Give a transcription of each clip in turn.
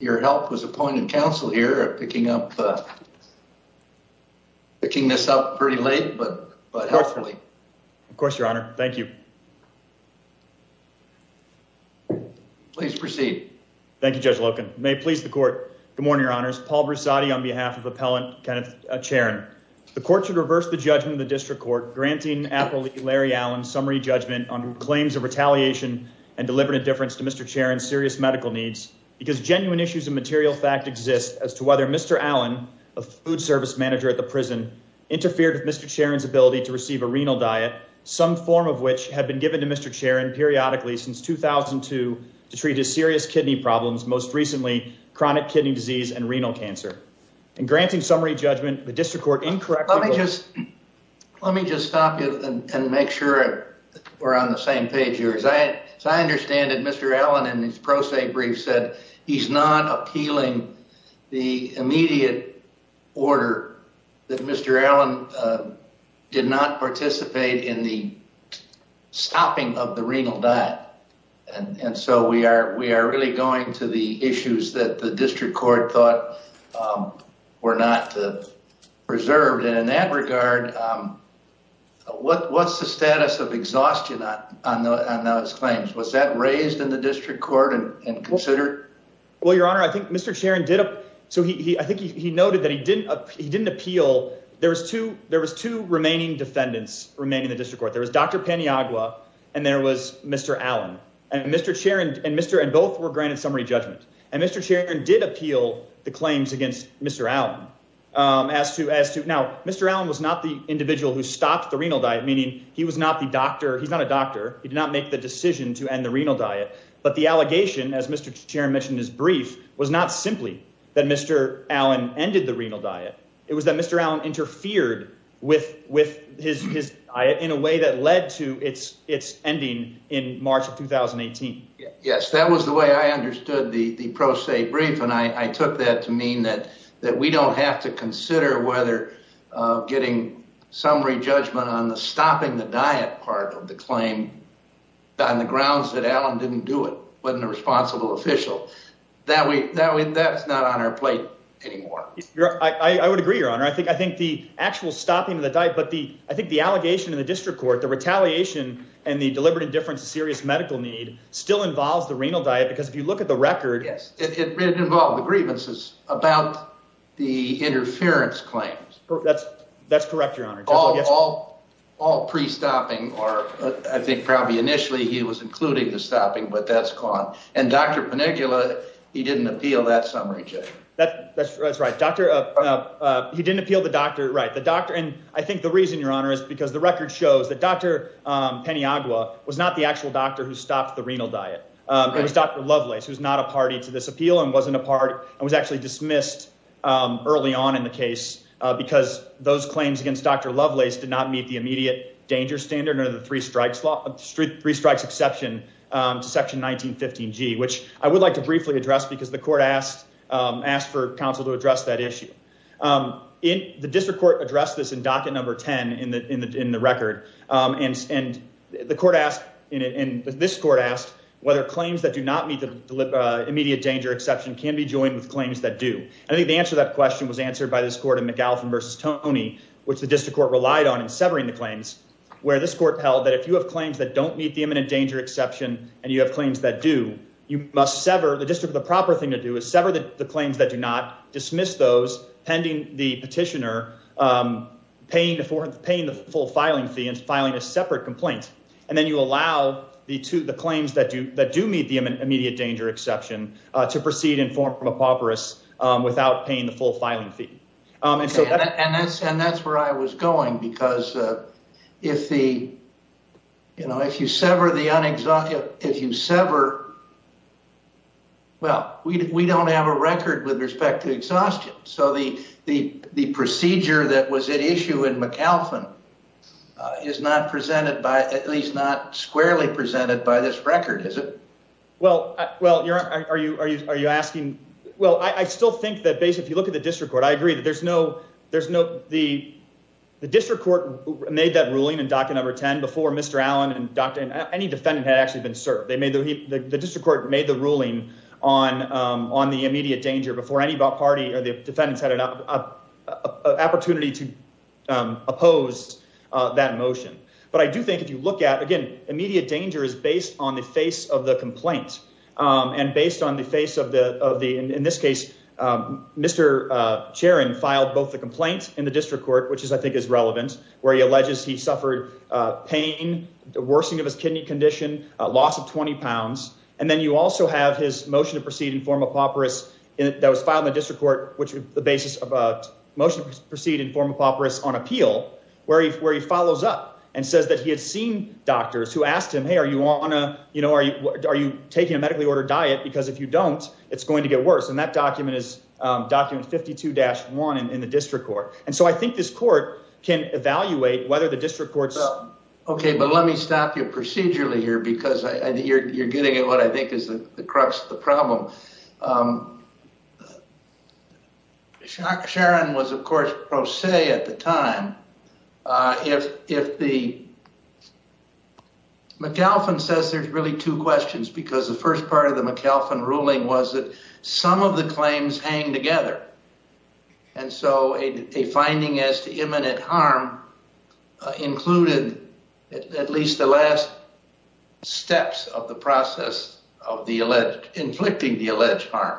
Your help was a point of counsel here at picking up, picking this up pretty late, but, but helpfully. Of course, your honor. Thank you. Please proceed. Thank you, Judge Loken. May please the court. Good morning, your honors. Paul Brussati on behalf of Appellant Kenneth Charron. The court should reverse the judgment of the district court, granting Appellee Larry Allen summary judgment on claims of retaliation and deliberate indifference to Mr. Charron's serious medical needs because genuine issues of material fact exist as to whether Mr. Allen, a food service manager at the prison, interfered with Mr. Charron's ability to receive a renal diet, some form of which had been given to Mr. Charron periodically since 2002 to treat his serious kidney problems, most recently chronic kidney disease and renal cancer. In granting summary judgment, the district court incorrectly... Let me just stop you and make sure we're on the same page here. As I understand it, Mr. Allen in his pro se brief said he's not appealing the immediate order that Mr. Allen did not participate in the stopping of the renal diet. And so we are, we are really going to the issues that the district court thought were not preserved. And in that regard, what's the status of exhaustion on those claims? Was that raised in the district court and considered? Well, your honor, I think Mr. Charron did. So he, I think he noted that he didn't appeal. There was two remaining defendants remaining in the district court. There was Dr. Paniagua and there was Mr. Allen and Mr. Charron and Mr. and both were granted summary judgment. And Mr. Charron did appeal the claims against Mr. Allen as to, as to now, Mr. Allen was not the individual who stopped the renal diet, meaning he was not the doctor. He's not a doctor. He did not make the decision to end the renal diet, but the allegation, as Mr. Charron mentioned, his brief was not simply that Mr. Allen ended the renal diet. It was that Mr. Allen interfered with, with his, his diet in a way that led to it's it's ending in March of 2018. Yes, that was the way I understood the, the pro se brief. And I took that to mean that, that we don't have to consider whether getting summary judgment on the stopping the diet part of the claim on the grounds that Allen didn't do it, wasn't a responsible official that we, that we, that's not on our plate anymore. I would agree, your honor. I think, I think the actual stopping of the diet, but the, I think the allegation in the district court, the retaliation and the deliberate indifference to serious medical need still involves the renal diet, because if you look at the record, it involved the grievances about the interference claims. That's, that's correct, your honor. All, all, all pre-stopping, or I think probably initially he was including the stopping, but that's gone. And Dr. Penigula, he didn't appeal that summary. That that's right. Dr. he didn't appeal the doctor, right. The doctor. And I think the reason your honor is because the record shows that Dr. Penny Agua was not the actual doctor who stopped the renal diet. It was Dr. Lovelace, who's not a party to this appeal and wasn't a part, and was actually dismissed early on in the case because those claims against Dr. Lovelace did not meet the immediate danger standard or the three strikes law, three strikes exception to 1915 G, which I would like to briefly address because the court asked, um, asked for counsel to address that issue. Um, in the district court addressed this in docket number 10 in the, in the, in the record. Um, and, and the court asked in, in this court asked whether claims that do not meet the immediate danger exception can be joined with claims that do. I think the answer to that question was answered by this court in McAuliffe versus Tony, which the district court relied on in severing the claims where this court held that if you have claims that don't meet the imminent danger exception, and you have claims that do, you must sever the district. The proper thing to do is sever the claims that do not dismiss those pending the petitioner, um, paying for paying the full filing fee and filing a separate complaint. And then you allow the two, the claims that do, that do meet the immediate danger exception, uh, to proceed and form from apocryphal, um, without paying the full filing fee. Um, and so that, and that's, and that's where I was going because, uh, if the, you know, if you sever the unexamined, if you sever, well, we, we don't have a record with respect to exhaustion. So the, the, the procedure that was at issue in McAlphin, uh, is not presented by at least not squarely presented by this record. Is it well, well, you're, are you, are you, are you asking? Well, I still think that base, if you the district court, I agree that there's no, there's no, the, the district court made that ruling and docket number 10 before Mr. Allen and doctor, any defendant had actually been served. They made the, the district court made the ruling on, um, on the immediate danger before any party or the defendants had an opportunity to, um, oppose, uh, that motion. But I do think if you look at again, immediate danger is based on the face of the complaint. Um, and based on the face of the, of the, in this case, um, Mr. Uh, Sharon filed both the complaints in the district court, which is, I think is relevant where he alleges he suffered, uh, pain, the worsening of his kidney condition, a loss of 20 pounds. And then you also have his motion to proceed and form a papyrus that was filed in the district court, which the basis of a motion to proceed and form a papyrus on appeal where he, where he follows up and says that he had seen doctors who asked him, Hey, you want to, you know, are you, are you taking a medically ordered diet? Because if you don't, it's going to get worse. And that document is, um, document 52 dash one in the district court. And so I think this court can evaluate whether the district courts. Okay. But let me stop you procedurally here because I think you're, you're getting at what I think is the crux of the problem. Um, Sharon was of course pro se at the time. Uh, if, if the McAlphin says there's really two questions, because the first part of the McAlphin ruling was that some of the claims hang together. And so a, a finding as to imminent harm included at least the last steps of the process of the alleged inflicting the alleged harm.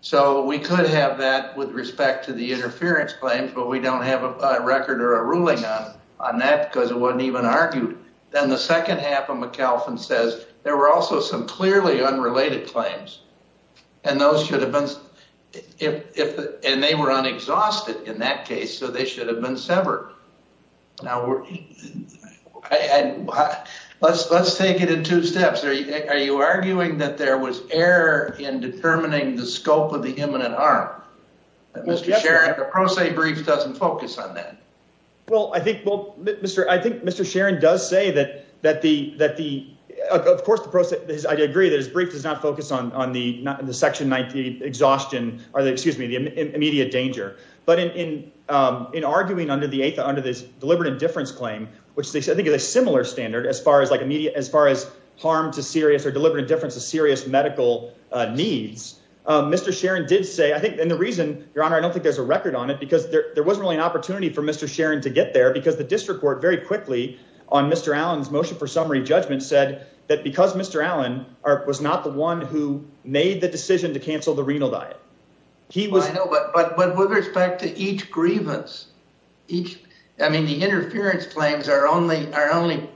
So we could have that with respect to the interference claims, but we don't have a record or a ruling on, on that because it wasn't even argued. Then the second half of McAlphin says there were also some clearly unrelated claims and those should have been if, if, and they were unexhausted in that case, so they should have been severed. Now we're, let's, let's take it in two steps. Are you, are you arguing that there was error in determining the scope of the imminent harm? Mr. Sharon, the pro se brief doesn't focus on that. Well, I think, well, Mr. I think Mr. Sharon does say that, that the, that the, of course the process is, I agree that his brief does not focus on, on the, not in the section 19 exhaustion, or the, excuse me, the immediate danger. But in, in in arguing under the eighth under this deliberate indifference claim, which they said, I think it's a similar standard as far as like immediate, as far as harm to serious or deliberate indifference to serious medical needs. Mr. Sharon did say, I think, and the reason your honor, I don't think there's a record on it because there, there wasn't really an opportunity for Mr. Sharon to get there because the district court very quickly on Mr. Allen's motion for summary judgment said that because Mr. Allen was not the one who made the decision to cancel the renal diet. He was, but, but, but with respect to each grievance, each, I mean, the interference claims are only, are only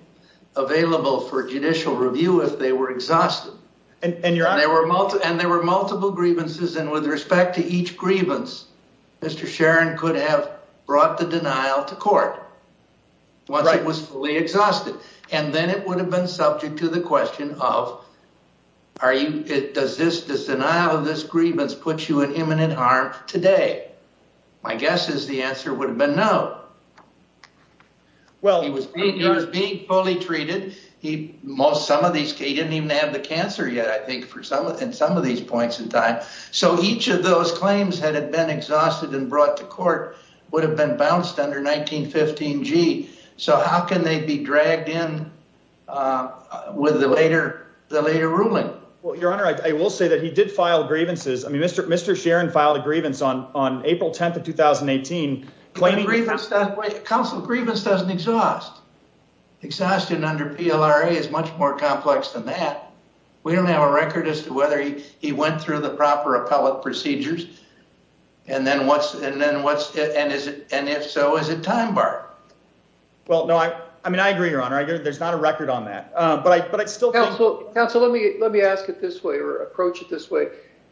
available for judicial review if they were exhausted and there were multiple and there were multiple grievances. And with respect to each grievance, Mr. Sharon could have brought the denial to court once it was fully exhausted. And then it would have been subject to the question of, are you, does this, this denial of this grievance puts you in imminent harm today? My guess is the answer would have been no. Well, he was being fully treated. He most, some of these, he didn't even have the cancer yet, I think for some, and some of these points in time. So each of those claims had been exhausted and brought to court would have been bounced under 1915 G. So how can they be dragged in with the later, the later ruling? Well, your honor, I will say that he did file grievances. I mean, Mr. Mr. Sharon filed a grievance on, on April 10th of 2018. Council grievance doesn't exhaust. Exhaustion under PLRA is much more complex than that. We don't have a record as to whether he went through the proper appellate procedures. And then what's, and then what's, and is it, and if so, is it time bar? Well, no, I, I mean, I agree, your honor. I get it. There's not a record on that, but I, but I'd still counsel. Let me, let me ask it this way or approach it this way.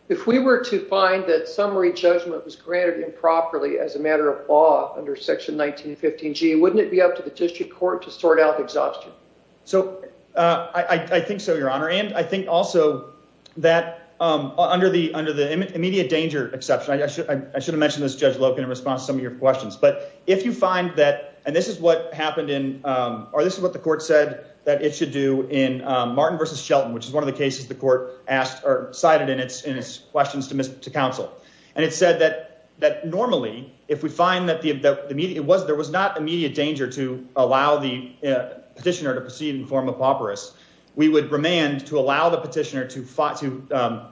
If we were to find that summary judgment was granted improperly as a matter of law under section 1915 G, wouldn't it be up to the district court to sort out exhaustion? So, uh, I, I think so, your honor. And I think also that, um, under the, under the immediate danger exception, I should, I should've mentioned this judge Logan in response to some of your questions, but if you find that, and this is what happened in, um, or this is what the court said that it should do in, um, Martin versus Shelton, which is one of the cases the court asked or cited in its, in its questions to miss to counsel. And it said that, that normally, if we find that the, the immediate, it was, there was not immediate danger to allow the petitioner to proceed in the form of pauperous, we would remand to allow the petitioner to fight, to, um,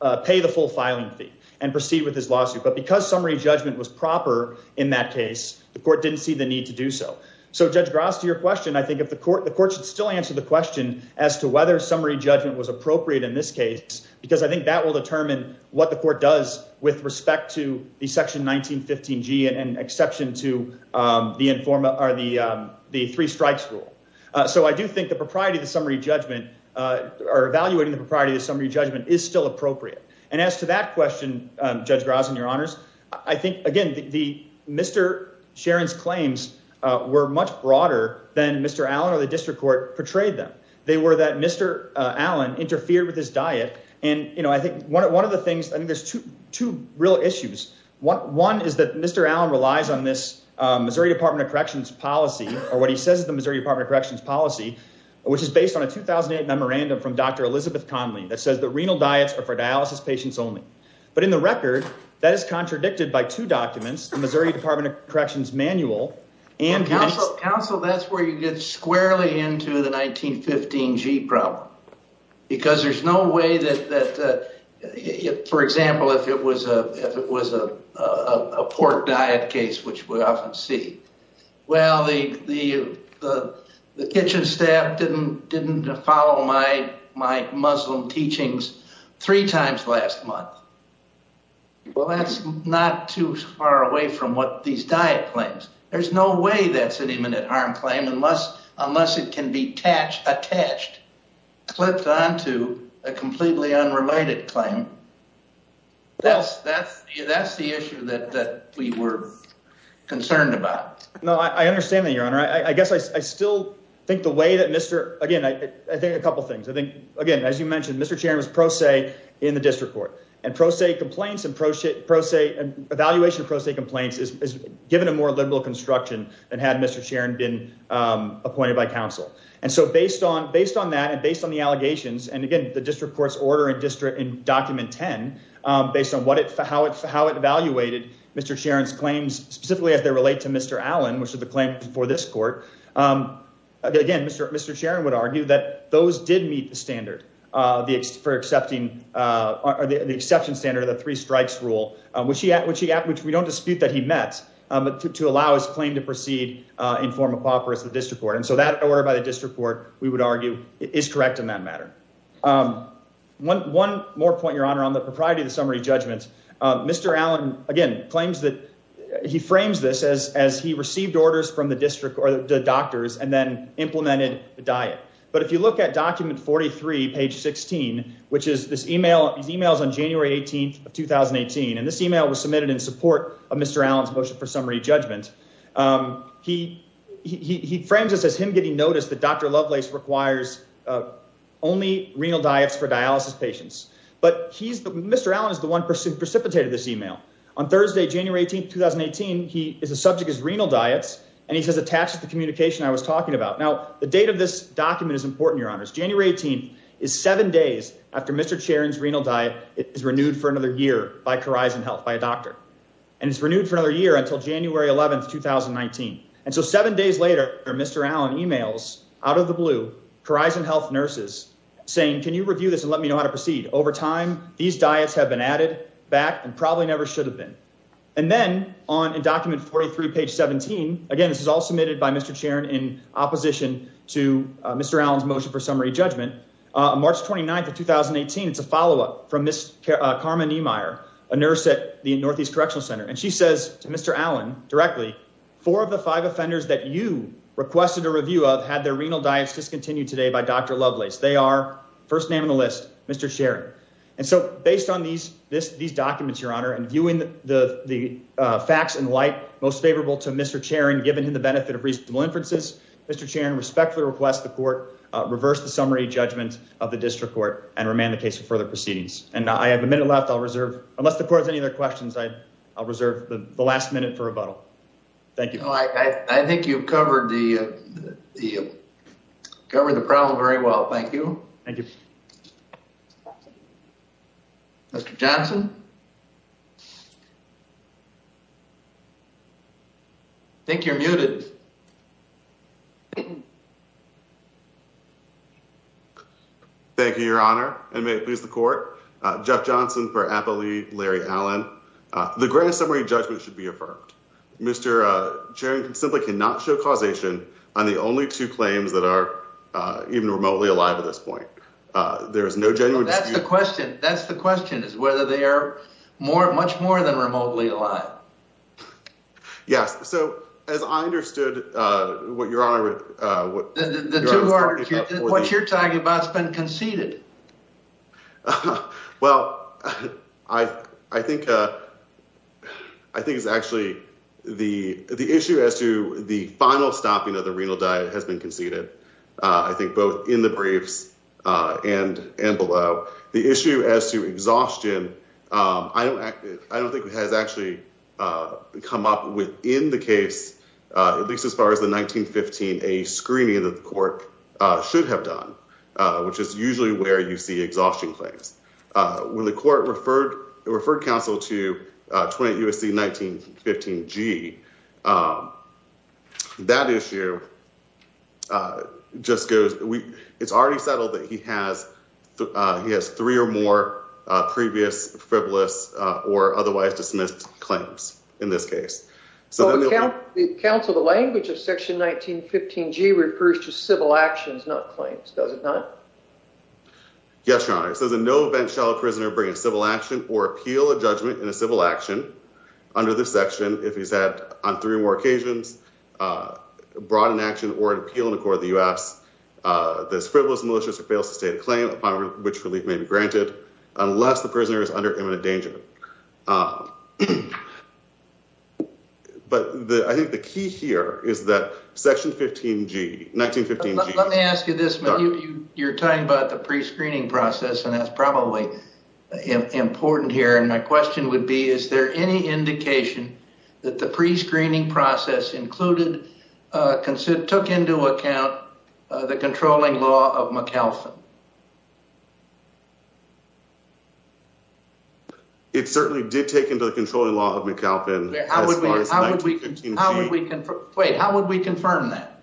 uh, pay the full filing fee and proceed with his lawsuit. But because summary judgment was proper in that case, the court didn't see the need to do so. So judge Gross to your question, I think if the court, the court should still answer the question as to whether summary judgment was appropriate in this case, because I think that will determine what the court does with respect to the section 1915 G and exception to, um, the informal or the, um, the three strikes rule. Uh, so I do think the propriety of the summary judgment, uh, or evaluating the propriety of the summary judgment is still appropriate. And as to that question, um, judge Gross and your honors, I think again, the, the Mr. Sharon's claims, uh, were much broader than Mr. Allen or the district court portrayed them. They were that Mr. Allen interfered with his diet. And, you know, I think one of the things, I think there's two, two real issues. One is that Mr. Allen relies on this, um, Missouri department of corrections policy, or what he says is the Missouri department of corrections policy, which is based on a 2008 memorandum from Dr. Elizabeth Connelly that says the renal diets are for dialysis patients only. But in the record that is contradicted by two documents, the Missouri department of corrections manual and counsel. That's where you get squarely into the 1915 G problem because there's no way that, that, uh, for example, if it was a, if it was a, uh, a pork diet case, which we often see, well, the, the, the, the kitchen staff didn't, didn't follow my, my Muslim teachings three times last month. Well, that's not too far away from these diet claims. There's no way that's an imminent harm claim unless, unless it can be attached, attached, clipped onto a completely unrelated claim. That's, that's, that's the issue that, that we were concerned about. No, I understand that your honor. I guess I still think the way that Mr. Again, I think a couple of things, I think, again, as you mentioned, Mr. Chairman's pro se in the district court and pro se complaints and pro se pro se evaluation complaints is given a more liberal construction than had Mr. Sharon been appointed by counsel. And so based on, based on that, and based on the allegations, and again, the district court's order and district and document 10, um, based on what it, how it, how it evaluated Mr. Sharon's claims, specifically as they relate to Mr. Allen, which is the claim for this court. Um, again, Mr. Mr. Sharon would argue that those did meet the standard, uh, for accepting, uh, or the exception standard of the three strikes rule, uh, which he, which he, which we don't dispute that he met, um, to, to allow his claim to proceed, uh, in form of pauper as the district court. And so that order by the district court, we would argue is correct in that matter. Um, one, one more point your honor on the propriety of the summary judgments. Um, Mr. Allen again, claims that he frames this as, as he received orders from the district or the doctors and then implemented the diet. But if you look at document 43 page 16, which is this email, these emails on January 18th of 2018, and this email was submitted in support of Mr. Allen's motion for summary judgment. Um, he, he, he, he frames us as him getting noticed that Dr. Lovelace requires, uh, only renal diets for dialysis patients, but he's the, Mr. Allen is the one person precipitated this email on Thursday, January 18th, 2018. He is a subject as renal diets. And he says, attached to the communication I was talking about now, the date of this document is January 18th is seven days after Mr. Chairman's renal diet is renewed for another year by horizon health by a doctor. And it's renewed for another year until January 11th, 2019. And so seven days later, Mr. Allen emails out of the blue horizon health nurses saying, can you review this and let me know how to proceed over time. These diets have been added back and probably never should have been. And then on a document 43 page 17, again, this is all submitted by Mr. Chairman in opposition to Mr. Allen's motion for summary judgment, uh, March 29th, 2018. It's a follow-up from Ms. Carmen Niemeyer, a nurse at the Northeast Correctional Center. And she says to Mr. Allen directly, four of the five offenders that you requested a review of had their renal diets discontinued today by Dr. Lovelace. They are first name on the list, Mr. Sharon. And so based on these, this, these documents, your honor, and viewing the facts in light, most favorable to Mr. Chairman, given him the benefit of reasonable inferences, Mr. Chairman respectfully request the court reverse the summary judgment of the district court and remand the case for further proceedings. And I have a minute left. I'll reserve unless the court has any other questions. I I'll reserve the last minute for rebuttal. Thank you. I think you've covered the, uh, the, uh, covered the problem very well. Thank you. Thank you. Mr. Johnson. I think you're muted. Thank you, your honor. And may it please the court, uh, Jeff Johnson for appellee, Larry Allen. Uh, the grant summary judgment should be affirmed. Mr. Uh, chairman can simply not show causation on the only two claims that are, uh, even remotely alive at this point. Uh, there is no genuine question. That's the question is whether they are more, much more than remotely alive. Yes. So as I understood, uh, what your honor, uh, what you're talking about has been conceded. Uh, well, I, I think, uh, I think it's actually the, the issue as to the final stopping of the renal diet has been conceded. Uh, I think both in the briefs, uh, and, and below the issue as to exhaustion. Um, I don't, I don't think it has actually, uh, come up with in the case, uh, at court, uh, should have done, uh, which is usually where you see exhaustion claims, uh, when the court referred, referred counsel to, uh, 20 USC, 1915 G, um, that issue, uh, just goes, we, it's already settled that he has, uh, he has three or more, uh, previous frivolous, uh, or otherwise dismissed claims in this case. So the counsel, the language of section 1915 G refers to civil actions, not claims. Does it not? Yes, your honor. It says in no event, shall a prisoner bring a civil action or appeal a judgment in a civil action under this section. If he's had on three or more occasions, uh, brought an action or an appeal in the court of the U S uh, this frivolous malicious or fail to state a claim upon which relief may be granted unless the prisoner is under imminent danger. Uh, but the, I think the key here is that section 15 G 1915 G. Let me ask you this, you're talking about the pre-screening process and that's probably important here. And my question would be, is there any indication that the pre-screening process included, uh, took into account, uh, the controlling law of McAlphin? It certainly did take into the controlling law of McAlpin. Wait, how would we confirm that?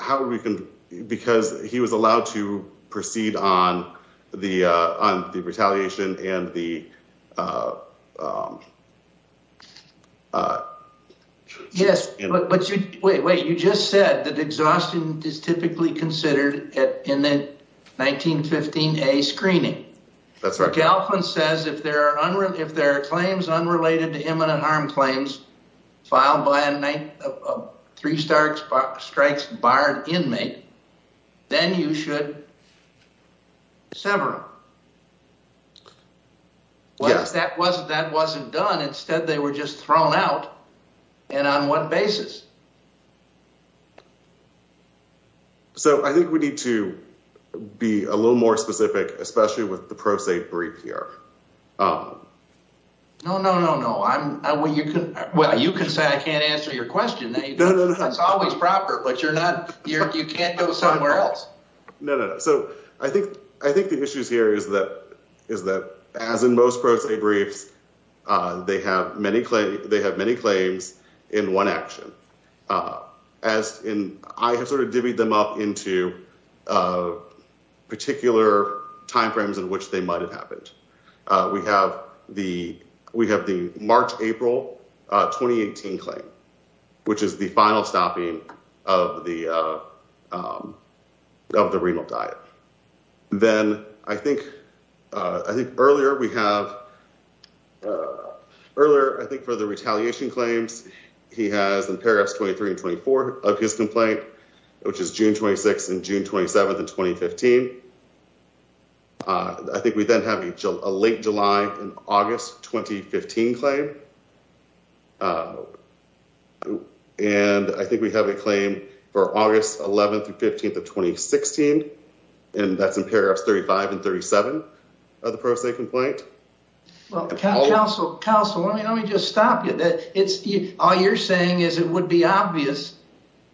How would we can, because he was allowed to proceed on the, uh, on the retaliation and the, uh, um, uh, yes. Wait, wait, you just said that exhaustion is typically considered at, in the 1915, a screening. That's right. Galvin says if there are unreal, if there are claims unrelated to imminent harm claims filed by a three-star strikes, barred inmate, then you should sever. Yes, that wasn't, that wasn't done. Instead, they were just thrown out. And on what basis? So I think we need to be a little more specific, especially with the pro se brief here. No, no, no, no. I'm, I, well, you can, well, you can say, I can't answer your question. That's always proper, but you're not, you're, you can't go somewhere else. No, no, no. So I think, I think the issue is here is that, is that as in most pro se briefs, uh, they have many claims, they have many claims in one action, uh, as in, I have sort of divvied them up into, uh, particular timeframes in which they might've happened. Uh, we have the, we have the March, April, uh, 2018 claim, which is the final stopping of the, uh, um, of the renal diet. Then I think, uh, I think earlier we have, uh, earlier, I think for the retaliation claims, he has in paragraphs 23 and 24 of his complaint, which is June 26th and June 27th in 2015. Uh, I think we then have a late July and August 2015 claim. Um, and I think we have a claim for August 11th through 15th of 2016, and that's in paragraphs 35 and 37 of the pro se complaint. Well, counsel, counsel, let me, let me just stop you. That it's, all you're saying is it would be obvious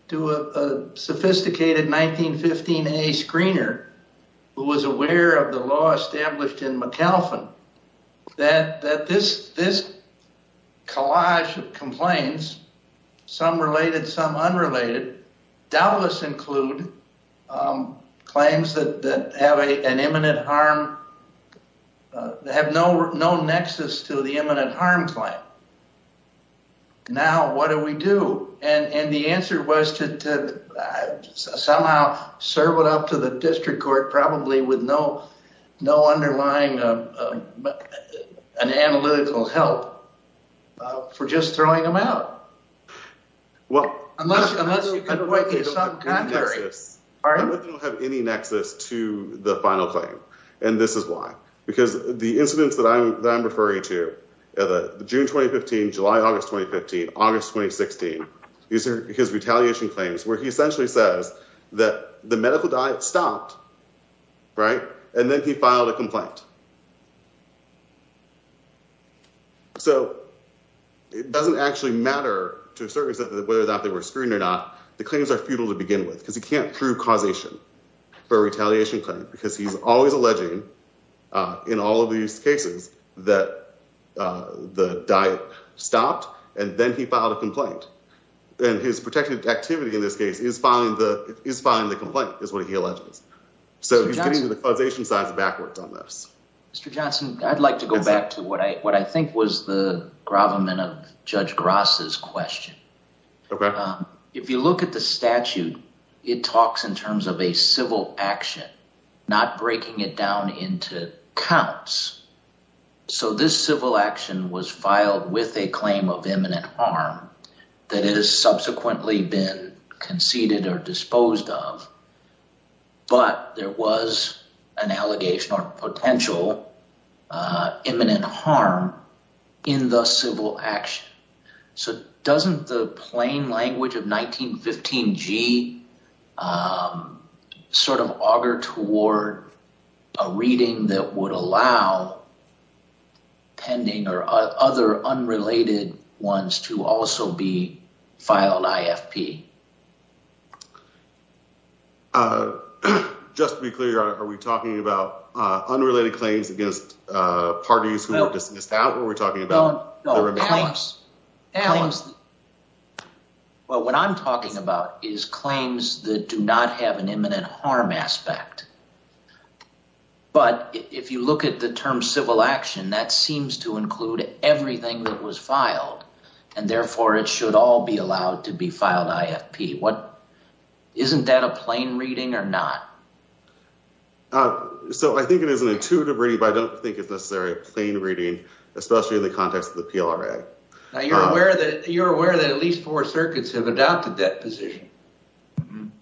to a sophisticated 1915A screener who was aware of the law established in McAlphin that, that this, this collage of complaints, some related, some unrelated doubtless include, um, claims that, that have a, an imminent harm, uh, have no, no nexus to the imminent harm claim. Now, what do we do? And the answer was to, to somehow serve it up to the district court, probably with no, no underlying, um, um, uh, an analytical help for just throwing them out. Well, unless, unless you have any nexus to the final claim, and this is why, because the incidents that I'm, that I'm referring to, uh, the June, 2015, July, August, 2015, August, 2016, these are his retaliation claims where he essentially says that the medical diet stopped. Right. And then he filed a complaint. So it doesn't actually matter to a certain extent that whether or not they were screened or not, the claims are futile to begin with because he can't prove causation for retaliation claim, because he's always alleging, uh, in all of these cases that, uh, the diet stopped and then he filed a complaint and his protective activity in this case is filing the complaint is what he alleges. So he's getting to the causation sides backwards on this. Mr. Johnson, I'd like to go back to what I, what I think was the gravamen of Judge Grass's question. Okay. If you look at the statute, it talks in terms of a civil action, not breaking it down into counts. So this civil action was filed with a claim of imminent harm that it has subsequently been conceded or disposed of, but there was an allegation or potential, uh, imminent harm in the civil action. So doesn't the plain language of 1915 G, um, sort of auger toward a reading that would allow pending or other unrelated ones to also be filed IFP. Uh, just to be clear, are we talking about, uh, unrelated claims against, uh, parties who were allies? Well, what I'm talking about is claims that do not have an imminent harm aspect. But if you look at the term civil action, that seems to include everything that was filed and therefore it should all be allowed to be filed IFP. What isn't that a plain reading or not? Uh, so I think it is an intuitive reading, but I don't think it's necessarily a plain reading, especially in the context of the PLRA. Now you're aware that you're aware that at least four circuits have adopted that position.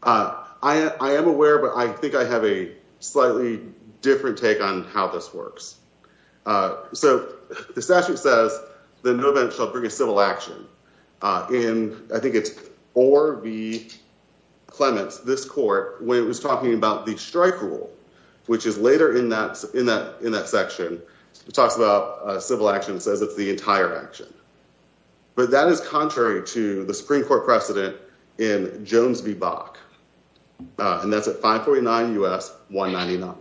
Uh, I, I am aware, but I think I have a slightly different take on how this works. Uh, so the statute says that no event shall bring a civil action, uh, in, I think it's or the Clements, this court, when it was talking about the strike rule, which is later in that, in that, in that section, it talks about a civil action says it's the entire action, but that is contrary to the Supreme court precedent in Jones v. Bach. Uh, and that's at 549 U.S. 199.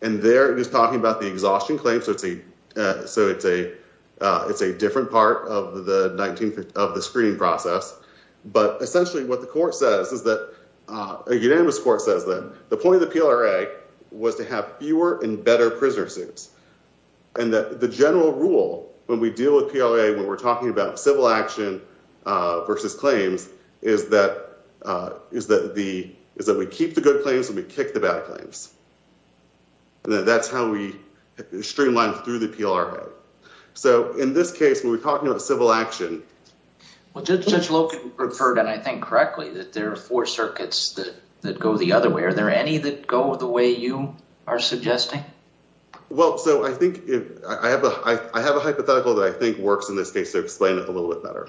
And they're just talking about the exhaustion claims. So it's a, so it's a, uh, it's a different part of the 1950 of the screening process. But essentially what the court says is that, uh, a unanimous court says that the point of the PLRA was to have fewer and better prisoner suits and that the general rule when we deal with PLA, when we're talking about civil action, uh, versus claims is that, uh, is that the, is that we keep the good claims and we kick the bad claims. And then that's how we streamline through the PLRA. So in this case, when we're talking about action, well, judge, judge Logan referred. And I think correctly that there are four circuits that, that go the other way. Are there any that go the way you are suggesting? Well, so I think I have a, I have a hypothetical that I think works in this case to explain it a little bit better.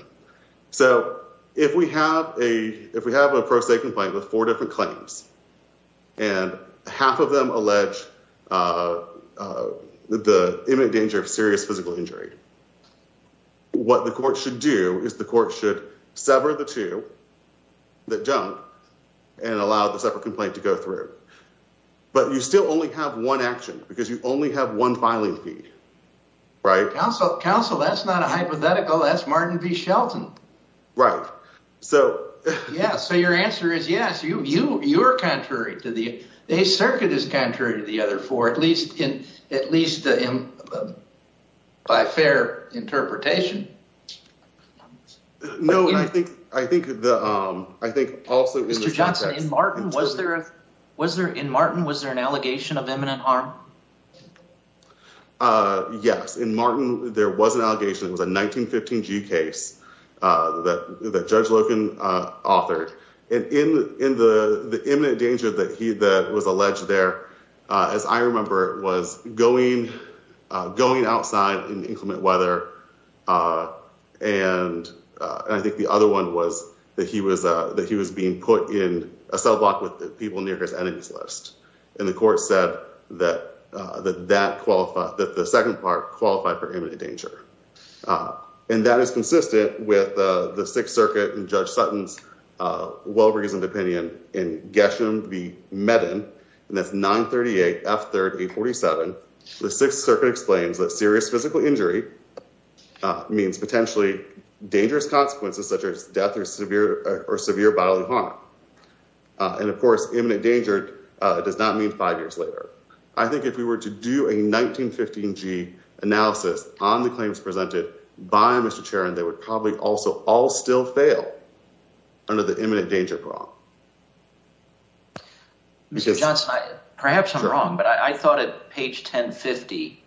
So if we have a, if we have an approach, they can find the four different claims and half of them allege, uh, uh, the imminent danger of serious physical injury. What the court should do is the court should sever the two that don't and allow the separate complaint to go through. But you still only have one action because you only have one filing fee, right? Counsel, counsel, that's not a hypothetical. That's Martin V Shelton, right? So, yeah. So your answer is yes. You, you, you are contrary to the, the circuit is contrary to the other four, at least in, at least by fair interpretation. No, I think, I think the, um, I think also was there in Martin, was there an allegation of imminent harm? Uh, yes. In Martin, there was an allegation. It was a 1915 G case, uh, that, that judge Logan, uh, authored and in, in the, the imminent danger that he, that was alleged there, uh, as I remember it was going, uh, going outside in inclement weather. Uh, and, uh, I think the other one was that he was, uh, that he was being put in a cell block with people near his enemies list. And the court said that, uh, that that qualified that the second part qualified for the Penney and, and Getshumed the Metin and that's nine 38 F third eight 47, the sixth certainly explains that serious physical injury, uh, means potentially dangerous consequences, such as death or severe or severe bodily harm. Uh, and of course, imminent danger does not mean five years later, I think if we were to do a 1915 G analysis on the claims presented by Mr. Chair, and they would probably also all still fail under the imminent danger. Mr. Johnson, perhaps I'm wrong, but I thought at page 10 50,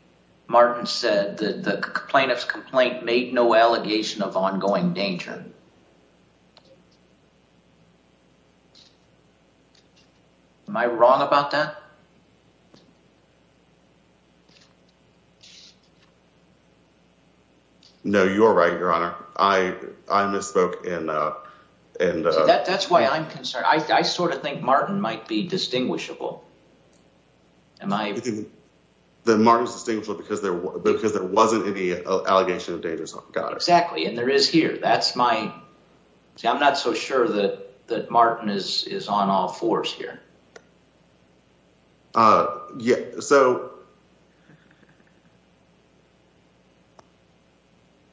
Martin said that the plaintiff's complaint made no allegation of ongoing danger. Am I wrong about that? No, you're right, Your Honor. I, I misspoke in, uh, and, uh, That's why I'm concerned. I, I sort of think Martin might be distinguishable. Am I? That Martin's distinguishable because there, because there wasn't any allegation of dangers. Got it. Exactly. And there is here. That's my, see, I'm not so sure that, that Martin is, is on all fours here. Uh, yeah, so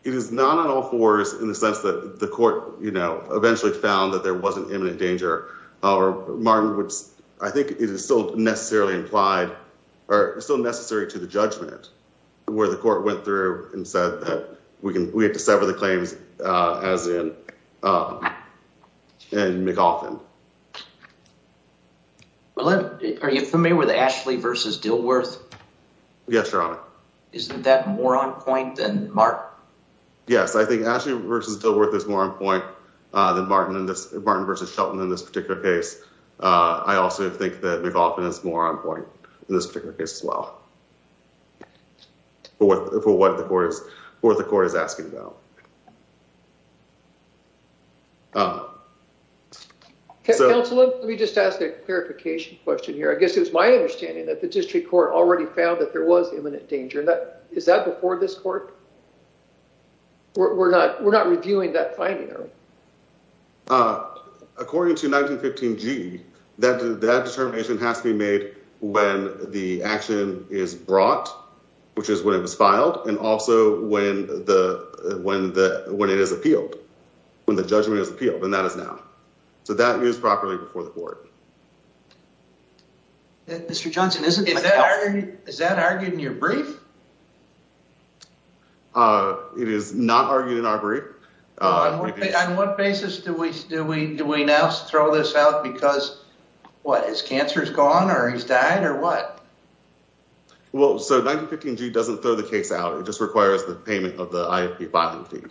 it is not on all fours in the sense that the court, you know, eventually found that there wasn't imminent danger or Martin, which I think it is still necessarily implied or still necessary to the judgment where the court went through and said that we can, we have to sever the claims, uh, as in, uh, in McAuflin. Are you familiar with Ashley versus Dilworth? Yes, Your Honor. Isn't that more on point than Martin? Yes, I think Ashley versus Dilworth is more on point, uh, than Martin in this, Martin versus Shelton in this particular case. Uh, I also think that McAuflin is more on point in this particular case as well. Uh, for what, for what the court is, what the court is asking about. Uh, so- Counselor, let me just ask a clarification question here. I guess it was my understanding that the district court already found that there was imminent danger. That, is that before this court? We're not, we're not reviewing that finding, are we? Uh, according to 1915G, that, that determination has to be made when the action is brought, which is when it was filed, and also when the, when the, when it is appealed, when the judgment is appealed, and that is now. So that is properly before the court. Mr. Johnson, is that argued in your brief? Uh, on what basis do we, do we, do we now throw this out because, what, his cancer's gone or he's died or what? Well, so 1915G doesn't throw the case out. It just requires the payment of the IFP filing fee.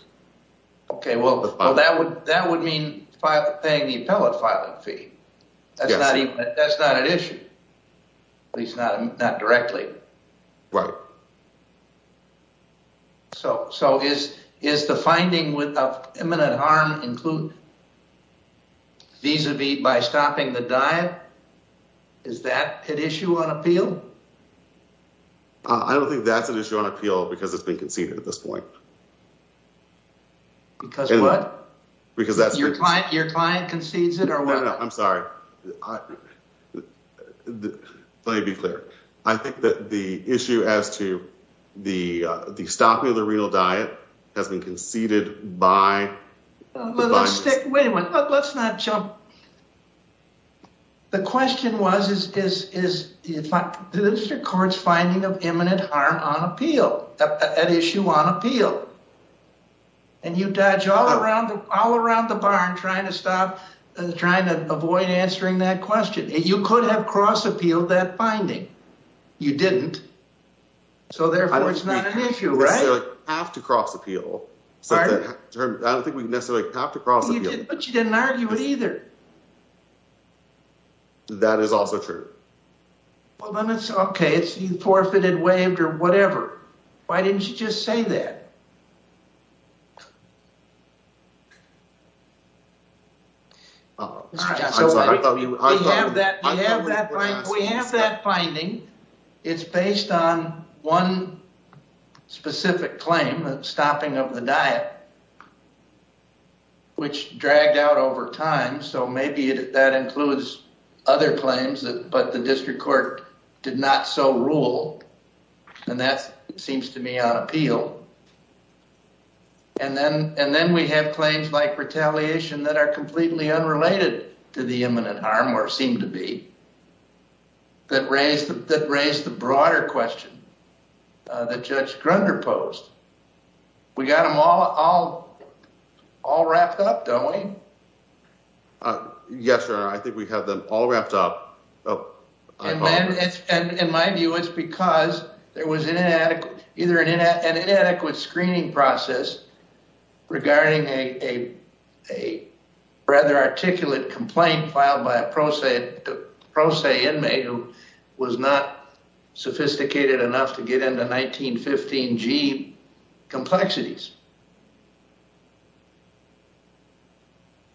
Okay, well, that would, that would mean paying the appellate filing fee. That's not even, that's not an issue, at least not, not directly. Right. So, so is, is the finding with, of imminent harm include vis-a-vis by stopping the diet? Is that an issue on appeal? I don't think that's an issue on appeal because it's been conceded at this point. Because what? Because that's your client, your client concedes it or what? I'm sorry. Let me be clear. I think that the issue as to the, the stopping of the renal diet has been conceded by. Wait a minute, let's not jump. The question was, is, is, is the district court's finding of imminent harm on appeal, an issue on appeal. And you dodge all around, all around the barn trying to stop, trying to avoid answering that question. You could have cross appealed that finding. You didn't. So therefore it's not an issue, right? Have to cross appeal. I don't think we necessarily have to cross appeal. But you didn't argue it either. That is also true. Well, then it's okay. It's forfeited, waived or whatever. Why didn't you just say that? So we have that, we have that finding. It's based on one specific claim, stopping of the diet, which dragged out over time. So maybe that includes other claims that, but the district court did not so rule. And that seems to me on appeal. And then, and then we have claims like retaliation that are completely unrelated to the imminent harm or seem to be. That raised, that raised the broader question that Judge Grunder posed. We got them all, all, all wrapped up, don't we? Yes, sir. I think we have them all wrapped up. And in my view, it's because there was inadequate, either an inadequate screening process regarding a, a rather articulate complaint filed by a pro se, pro se inmate who was not sophisticated enough to get into 1915 G complexities.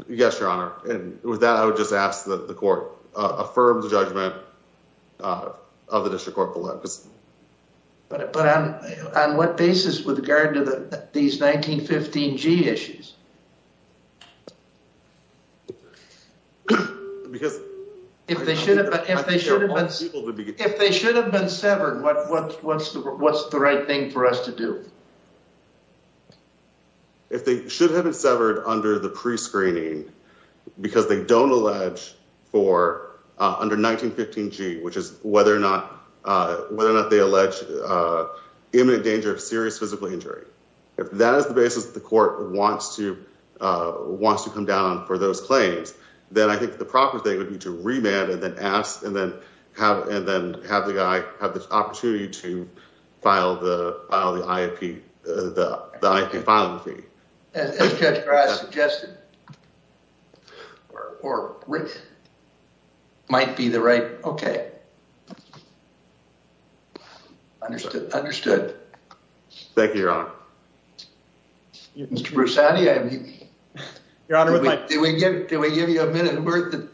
Yes, your honor. And with that, I would just ask that the court affirm the judgment of the district court. But, but on, on what basis with regard to the, these 1915 G issues. Because if they should have been, if they should have been, if they should have been severed, what, what, what's the, what's the right thing for us to do? If they should have been severed under the pre-screening, because they don't allege for under 1915 G, which is whether or not, whether or not they allege imminent danger of serious physical injury. If that is the basis that the court wants to, wants to come down for those claims, then I think the proper thing would be to remand and then ask and then have, and then have the guy have the opportunity to file the, file the IAP, the IAP might be the right. Okay. Understood. Understood. Thank you, your honor. Mr. Broussardi, your honor, did we get, did we give you a minute worth of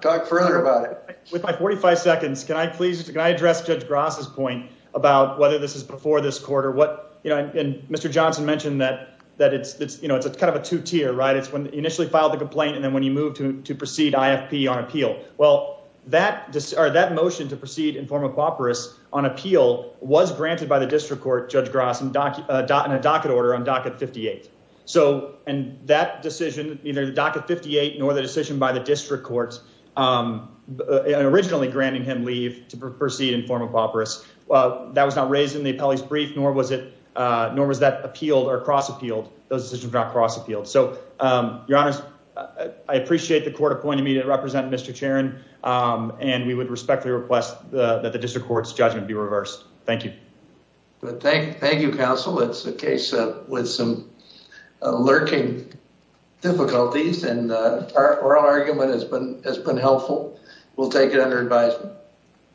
talk further about it with my 45 seconds? Can I please, can I address judge Gross's point about whether this is before this quarter? What, you know, and Mr. Johnson mentioned that, that it's, it's, you know, it's a kind of a two tier, right? It's when initially filed the complaint. And then when you move to, to proceed IFP on appeal, well, that, or that motion to proceed in form of co-operatives on appeal was granted by the district court, judge Gross, in a docket order on docket 58. So, and that decision, either the docket 58, nor the decision by the district courts, originally granting him leave to proceed in form of co-operatives. Well, that was not raised in the appellee's brief, nor was it, nor was that appealed or cross appealed those decisions, not cross appealed. So your honors, I appreciate the court appointing me to represent Mr. Charon. And we would respectfully request that the district court's judgment be reversed. Thank you. Thank you, counsel. It's a case with some lurking difficulties and oral argument has been, has been helpful. We'll take it under advisement.